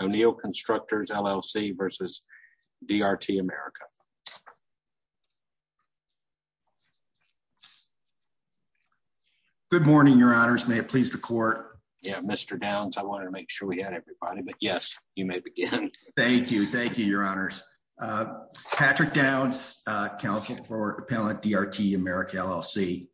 O'Neill Constructors, LLC versus DRT America. Good morning, your honors. May it please the court. Yeah, Mr. Downs, I wanted to make sure we had everybody, but yes, you may begin. Thank you. Thank you, your honors. Patrick Downs, Counsel for Appellant, DRT America, LLC.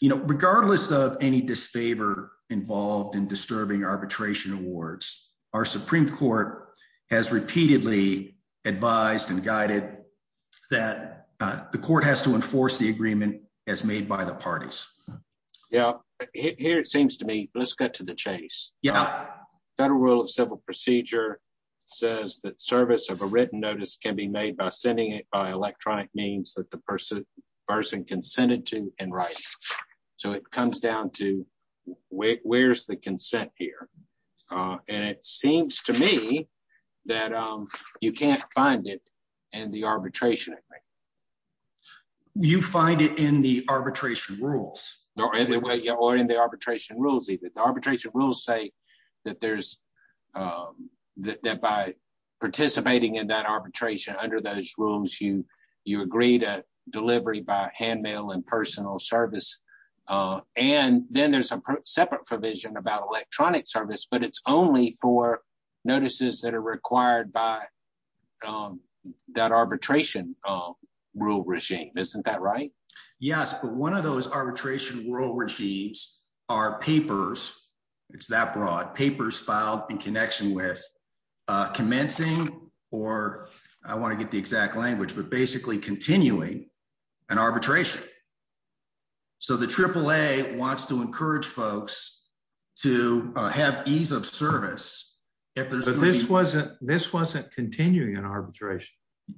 You know, regardless of any disfavor involved in disturbing arbitration awards, our Supreme Court has repeatedly advised and guided that the court has to enforce the agreement as made by the parties. Yeah, here it seems to me, let's get to the chase. Yeah. Federal Rule of Civil Procedure says that service of a written notice can be made by sending it by electronic means that the person can send it to in writing. So it comes down to where's the consent here? And it seems to me that you can't find it in the arbitration agreement. You find it in the arbitration rules. No, in the way, or in the arbitration rules, either the arbitration rules say that there's, that by participating in that arbitration under those rules, you agree to delivery by handmail and personal service. And then there's a separate provision about electronic service, but it's only for notices that are required by that arbitration rule regime. Isn't that right? Yes, but one of those arbitration rule regimes are papers. It's that broad. Papers filed in connection with commencing, or I wanna get the exact language, but basically continuing an arbitration. So the AAA wants to encourage folks to have ease of service. If there's- But this wasn't continuing an arbitration.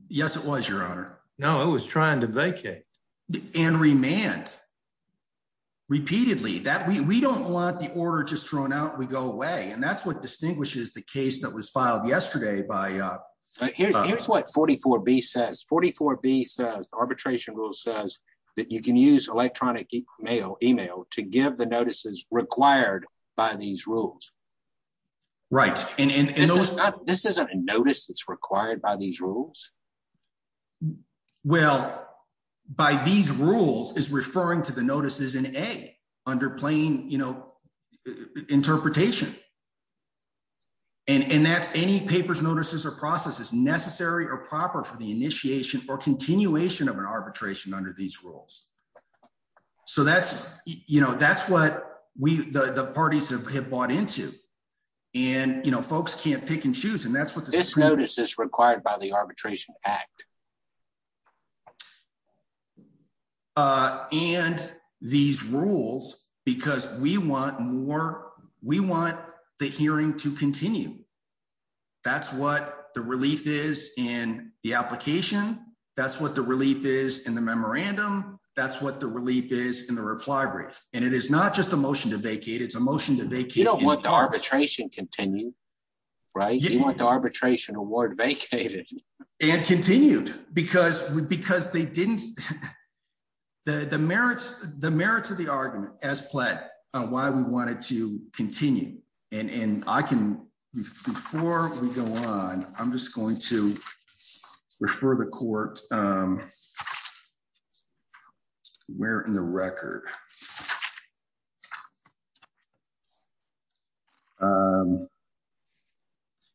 Yes, it was, Your Honor. No, it was trying to vacate. And remand, repeatedly. That we don't want the order just thrown out, we go away. And that's what distinguishes the case that was filed yesterday by- Here's what 44B says. 44B says, the arbitration rule says that you can use electronic email to give the notices required by these rules. Right. And those- This isn't a notice that's required by these rules? Well, by these rules is referring to the notices in A, under plain interpretation. And that's any papers, notices, or processes are proper for the initiation or continuation of an arbitration under these rules. So that's what the parties have bought into. And folks can't pick and choose, and that's what the Supreme Court- This notice is required by the Arbitration Act. And these rules, because we want more, we want the hearing to continue. That's what the relief is in the application. That's what the relief is in the memorandum. That's what the relief is in the reply brief. And it is not just a motion to vacate, it's a motion to vacate- You don't want the arbitration continued, right? You want the arbitration award vacated. And continued, because they didn't- The merits of the argument, as pled, on why we wanted to continue. And I can, before we go on, I'm just going to refer the court where in the record.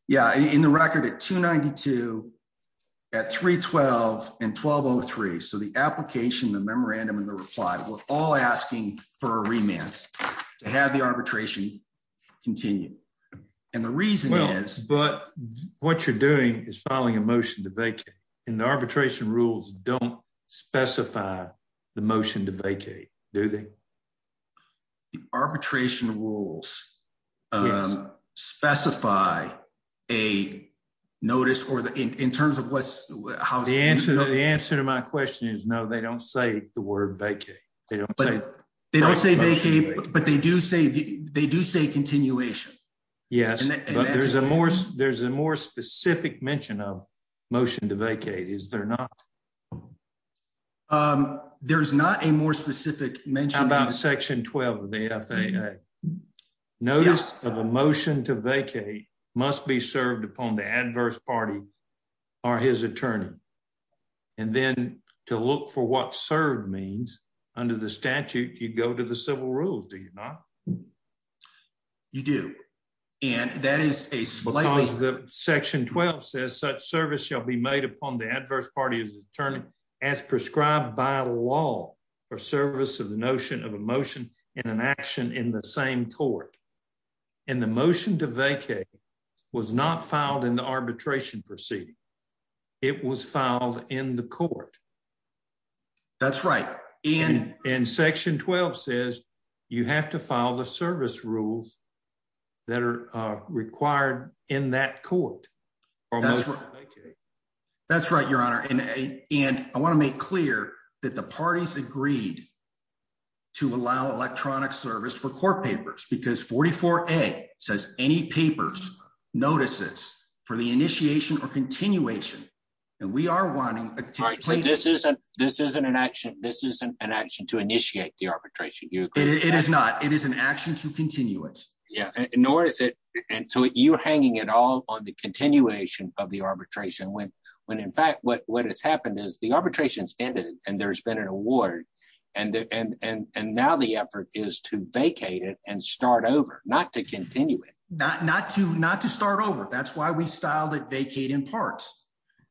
Yeah, in the record at 292, at 312, and 1203. So the application, the memorandum, and the reply, we're all asking for a remand to have the arbitration continue. And the reason is- Well, but what you're doing is filing a motion to vacate, and the arbitration rules don't specify the motion to vacate, do they? The arbitration rules specify a notice, or in terms of what's- The answer to my question is no, they don't say the word vacate. They don't say- They don't say vacate, but they do say continuation. Yes, but there's a more specific mention of motion to vacate, is there not? There's not a more specific mention- How about section 12 of the FAA? Notice of a motion to vacate must be served upon the adverse party or his attorney. And then to look for what served means, under the statute, you'd go to the civil rules, do you not? You do, and that is a slightly- Because section 12 says such service shall be made upon the adverse party or his attorney as prescribed by law for service of the notion of a motion and an action in the same tort. And the motion to vacate was not filed in the arbitration proceeding. It was filed in the court. That's right, and- And section 12 says you have to file the service rules that are required in that court, or motion to vacate. That's right, Your Honor, and I wanna make clear that the parties agreed to allow electronic service for court papers, because 44A says any papers, notices for the initiation or continuation. And we are wanting- All right, so this isn't an action, this isn't an action to initiate the arbitration, you agree? It is not, it is an action to continue it. Yeah, nor is it, and so you're hanging it all on the continuation of the arbitration, when in fact, what has happened is the arbitration's ended and there's been an award, and now the effort is to vacate it and start over, not to continue it. Not to start over, that's why we styled it vacate in parts.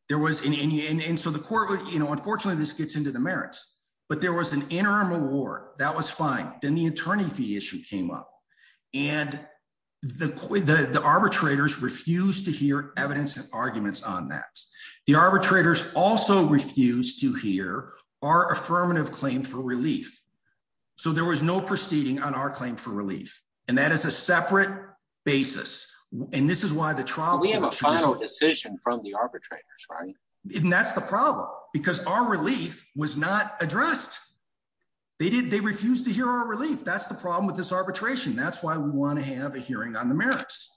There was, and so the court would, unfortunately this gets into the merits, but there was an interim award, that was fine. Then the attorney fee issue came up, and the arbitrators refused to hear evidence and arguments on that. The arbitrators also refused to hear our affirmative claim for relief. So there was no proceeding on our claim for relief, and that is a separate basis. And this is why the trial- We have a final decision from the arbitrators, right? And that's the problem, because our relief was not addressed. They refused to hear our relief, that's the problem with this arbitration. That's why we wanna have a hearing on the merits.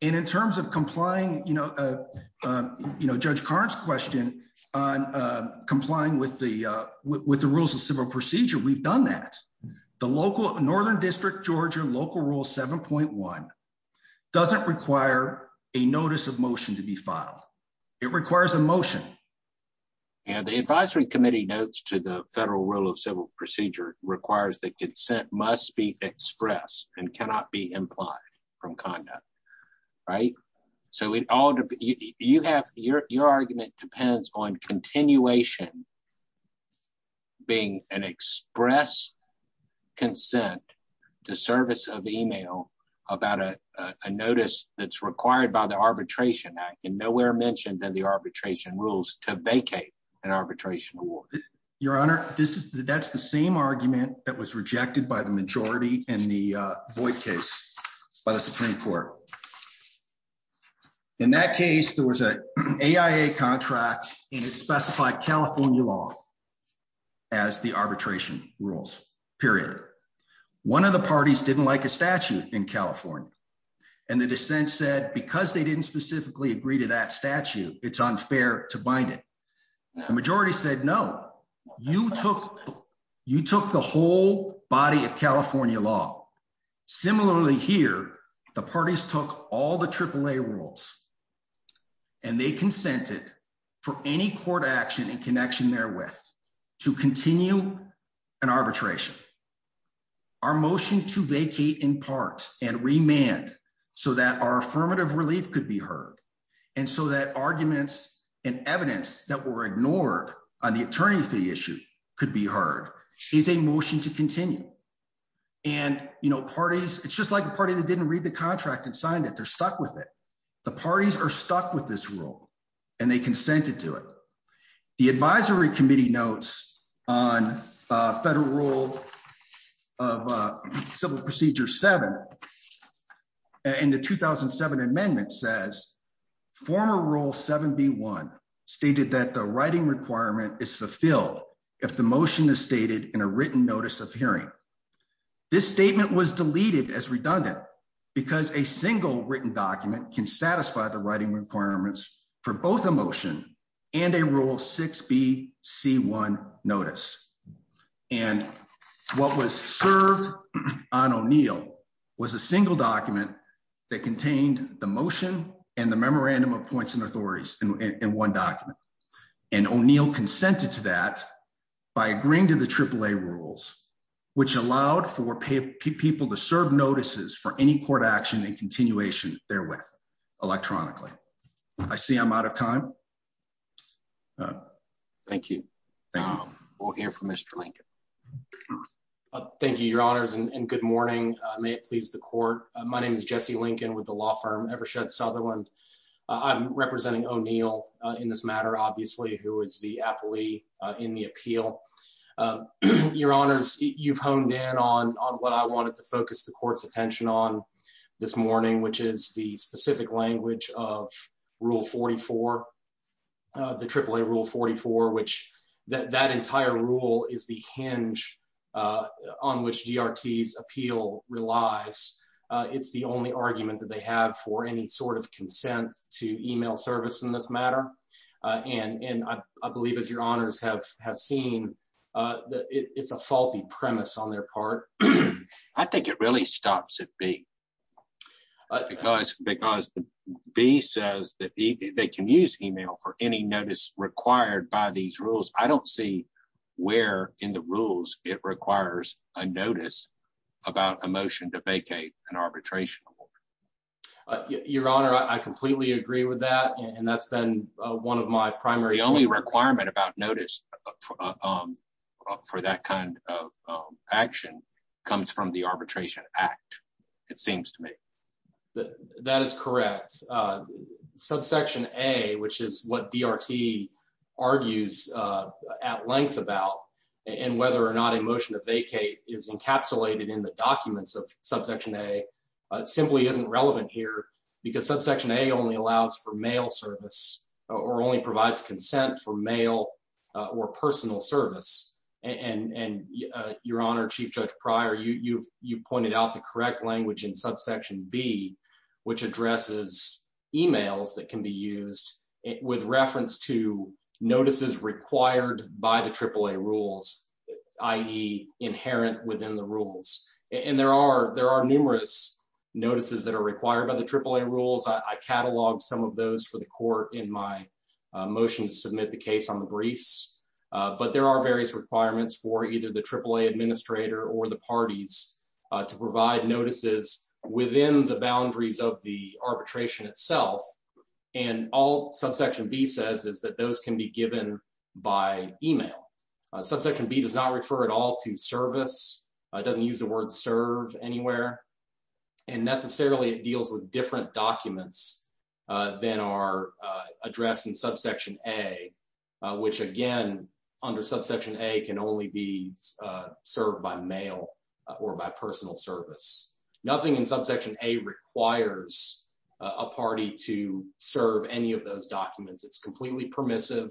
And in terms of complying, you know, Judge Karn's question on complying with the rules of civil procedure, we've done that. The local Northern District, Georgia local rule 7.1 doesn't require a notice of motion to be filed. It requires a motion. And the advisory committee notes to the federal rule of civil procedure requires that consent must be expressed and cannot be implied from conduct, right? So you have, your argument depends on continuation being an express consent to service of email about a notice that's required by the Arbitration Act and nowhere mentioned in the arbitration rules to vacate an arbitration award. Your Honor, that's the same argument that was rejected by the majority in the Voight case by the Supreme Court. In that case, there was a AIA contract and it specified California law as the arbitration rules, period. One of the parties didn't like a statute in California. And the dissent said, because they didn't specifically agree to that statute, it's unfair to bind it. The majority said, no, you took the whole body of California law. Similarly here, the parties took all the AAA rules and they consented for any court action in connection therewith to continue an arbitration. Our motion to vacate in part and remand so that our affirmative relief could be heard. And so that arguments and evidence that were ignored on the attorney fee issue could be heard is a motion to continue. And parties, it's just like a party that didn't read the contract and signed it, they're stuck with it. The parties are stuck with this rule and they consented to it. The advisory committee notes on a federal rule of civil procedure seven. And the 2007 amendment says, former rule 7B1 stated that the writing requirement is fulfilled if the motion is stated in a written notice of hearing. This statement was deleted as redundant because a single written document can satisfy the writing requirements for both a motion and a rule 6BC1 notice. And what was served on O'Neill was a single document that contained the motion and the memorandum of points and authorities in one document. And O'Neill consented to that by agreeing to the AAA rules, which allowed for people to serve notices for any court action and continuation therewith electronically. I see I'm out of time. Thank you. We'll hear from Mr. Lincoln. Thank you, your honors and good morning. May it please the court. My name is Jesse Lincoln with the law firm Evershed Sutherland. I'm representing O'Neill in this matter, obviously, who is the appellee in the appeal. Your honors, you've honed in on what I wanted to focus the court's attention on this morning, which is the specific language of rule 44, the AAA rule 44, which that entire rule is the hinge on which DRT's appeal relies. It's the only argument that they have for any sort of consent to email service in this matter. And I believe as your honors have seen, it's a faulty premise on their part. I think it really stops at B because B says that they can use email for any notice required by these rules. I don't see where in the rules it requires a notice about a motion to vacate an arbitration award. Your honor, I completely agree with that. And that's been one of my primary only requirement about notice for that kind of action comes from the Arbitration Act, it seems to me. That is correct. Subsection A, which is what DRT argues at length about and whether or not a motion to vacate is encapsulated in the documents of subsection A, simply isn't relevant here because subsection A only allows for mail service or only provides consent for mail or personal service. And your honor, Chief Judge Pryor, you've pointed out the correct language in subsection B, which addresses emails that can be used with reference to notices required by the AAA rules, i.e. inherent within the rules. And there are numerous notices that are required by the AAA rules. I cataloged some of those for the court in my motion to submit the case on the briefs. But there are various requirements for either the AAA administrator or the parties to provide notices within the boundaries of the arbitration itself. And all subsection B says is that those can be given by email. Subsection B does not refer at all to service. It doesn't use the word serve anywhere. And necessarily it deals with different documents than are addressed in subsection A, which again, under subsection A can only be served by mail or by personal service. Nothing in subsection A requires a party to serve any of those documents. It's completely permissive.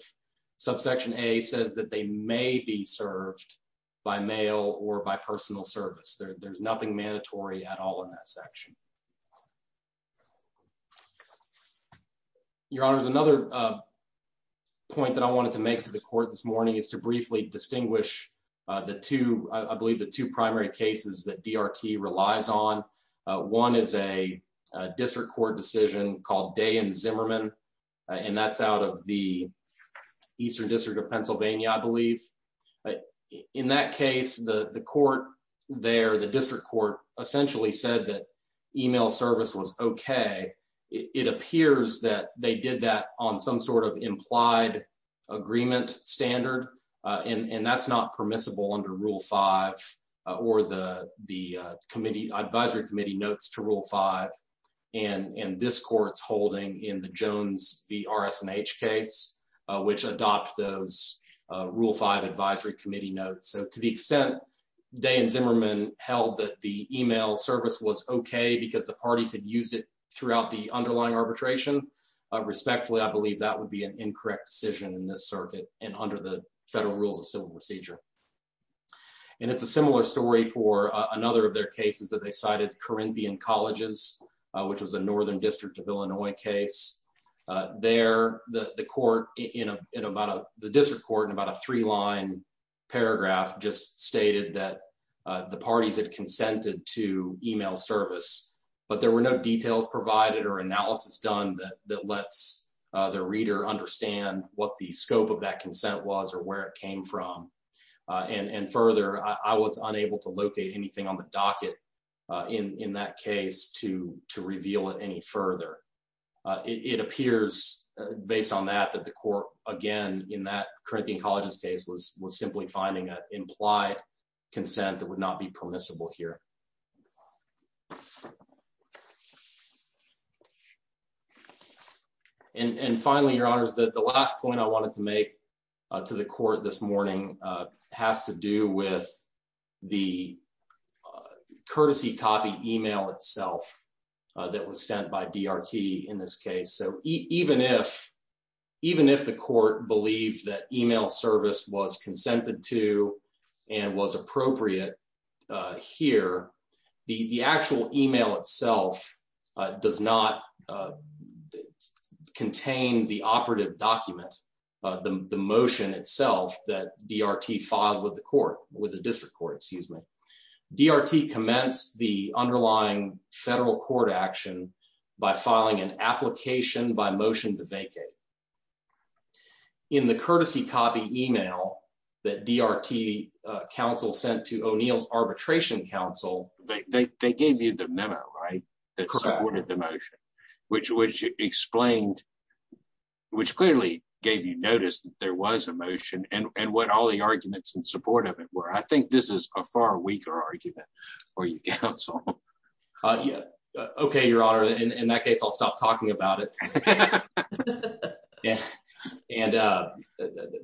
Subsection A says that they may be served by mail or by personal service. There's nothing mandatory at all in that section. Your Honor, there's another point that I wanted to make to the court this morning is to briefly distinguish the two, I believe the two primary cases that DRT relies on. One is a district court decision called Day and Zimmerman, I believe. In that case, the court there, the district court essentially said that email service was okay. It appears that they did that on some sort of implied agreement standard. And that's not permissible under rule five or the advisory committee notes to rule five. And this court's holding in the Jones v. RS&H case, which adopts those rule five advisory committee notes. So to the extent Day and Zimmerman held that the email service was okay because the parties had used it throughout the underlying arbitration, respectfully, I believe that would be an incorrect decision in this circuit and under the federal rules of civil procedure. And it's a similar story for another of their cases that they cited Corinthian Colleges, which was a Northern District of Illinois case. There, the court in about, the district court in about a three line paragraph just stated that the parties had consented to email service, but there were no details provided or analysis done that lets the reader understand what the scope of that consent was or where it came from. And further, I was unable to locate anything on the docket in that case to reveal it any further. It appears based on that, that the court, again, in that Corinthian Colleges case was simply finding an implied consent that would not be permissible here. And finally, your honors, the last point I wanted to make to the court this morning has to do with the courtesy copy email itself that was sent by DRT in this case. So even if the court believed that email service was consented to and was appropriate here, the actual email itself does not contain the operative document, the motion itself that DRT filed with the court, with the district court, excuse me. DRT commenced the underlying federal court action by filing an application by motion to vacate. In the courtesy copy email that DRT counsel sent to O'Neill's arbitration counsel- They gave you the memo, right? That supported the motion, which explained, which clearly gave you notice that there was a motion and what all the arguments in support of it were. I think this is a far weaker argument for you, counsel. Okay, your honor. In that case, I'll stop talking about it. And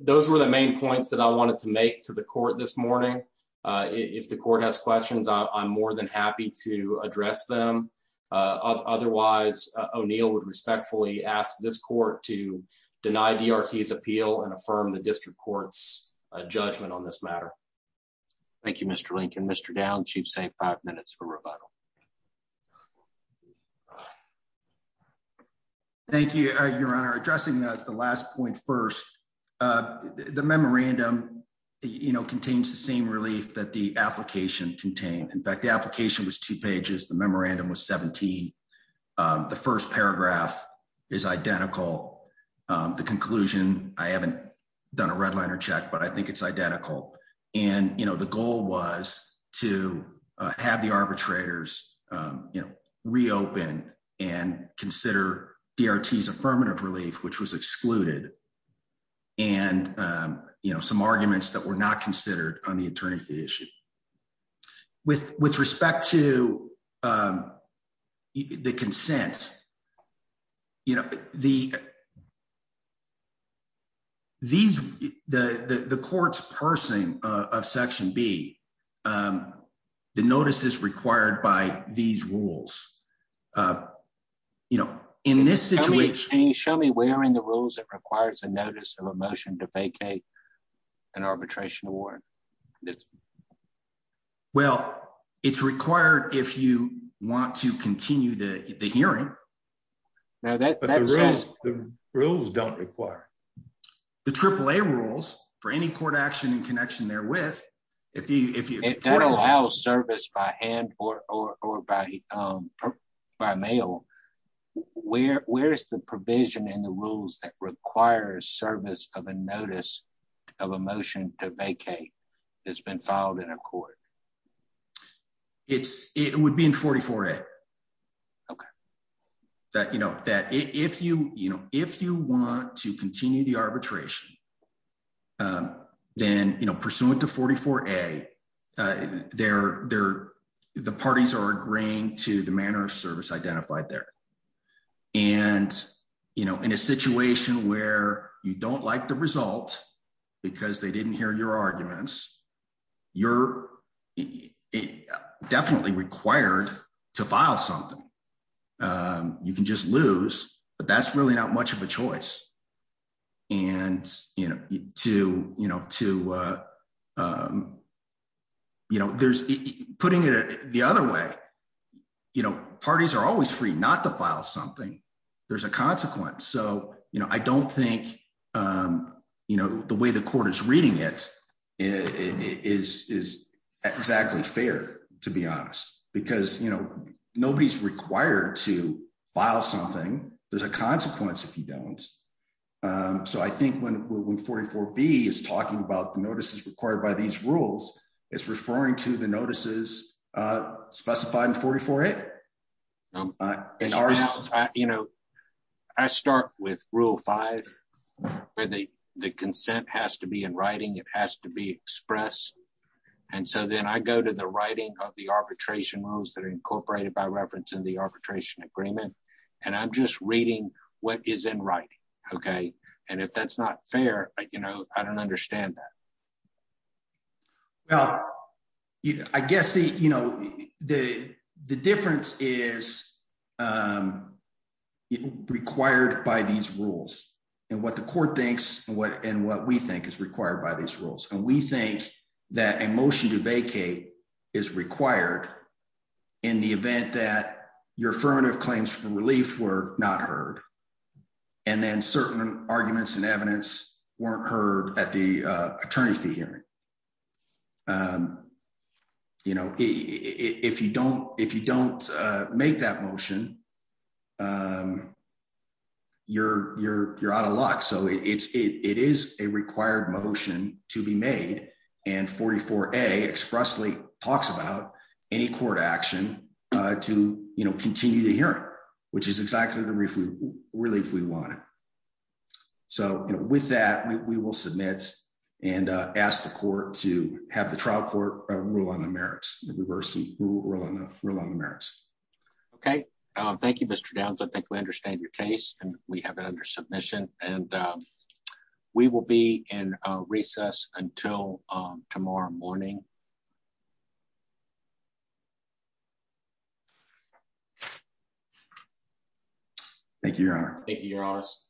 those were the main points that I wanted to make to the court this morning. If the court has questions, I'm more than happy to address them. Otherwise, O'Neill would respectfully ask this court to deny DRT's appeal and affirm the district court's judgment on this matter. Thank you, Mr. Lincoln. Mr. Dowd, chief's saying five minutes for rebuttal. Thank you, your honor. Addressing the last point first, the memorandum contains the same relief that the application contained. In fact, the application was two pages. The memorandum was 17. The first paragraph is identical. The conclusion, I haven't done a red liner check, but I think it's identical. And the goal was to have the arbitrators reopen and consider DRT's affirmative relief, which was excluded, and some arguments that were not considered on the attorney fee issue. With respect to the consent, you know, the court's parsing of section B, the notice is required by these rules. You know, in this situation- Can you show me where in the rules it requires a notice of a motion to vacate an arbitration award? Yes. Well, it's required if you want to continue the hearing. Now that- But the rules don't require. The AAA rules for any court action in connection therewith, if you- If that allows service by hand or by mail, where's the provision in the rules that requires service of a notice of a motion to vacate that's been filed in a court? It would be in 44A. Okay. That, you know, that if you want to continue the arbitration, then, you know, pursuant to 44A, the parties are agreeing to the manner of service identified there. And, you know, in a situation where you don't like the result because they didn't hear your arguments, you're definitely required to file something. You can just lose, but that's really not much of a choice. And, you know, to, you know, to, you know, there's, putting it the other way, you know, parties are always free not to file something. There's a consequence. So, you know, I don't think, you know, the way the court is reading it is exactly fair, to be honest, because, you know, nobody's required to file something. There's a consequence if you don't. So I think when 44B is talking about the notices required by these rules, it's referring to the notices specified in 44A. And ours- You know, I start with rule five, where the consent has to be in writing, it has to be expressed. And so then I go to the writing of the arbitration rules that are incorporated by reference in the arbitration agreement, and I'm just reading what is in writing, okay? And if that's not fair, like, you know, I don't understand that. Well, I guess, you know, the difference is required by these rules, and what the court thinks, and what we think is required by these rules. And we think that a motion to vacate is required in the event that your affirmative claims for relief were not heard, and then certain arguments and evidence weren't heard at the attorney fee hearing. You know, if you don't make that motion, you're out of luck. So it is a required motion to be made, and 44A expressly talks about any court action to, you know, continue the hearing, which is exactly the relief we wanted. So, you know, with that, we will submit and ask the court to have the trial court rule on the merits, reverse rule on the merits. Okay, thank you, Mr. Downs. I think we understand your case, and we have it under submission, Thank you, Your Honor. Thank you, Your Honors.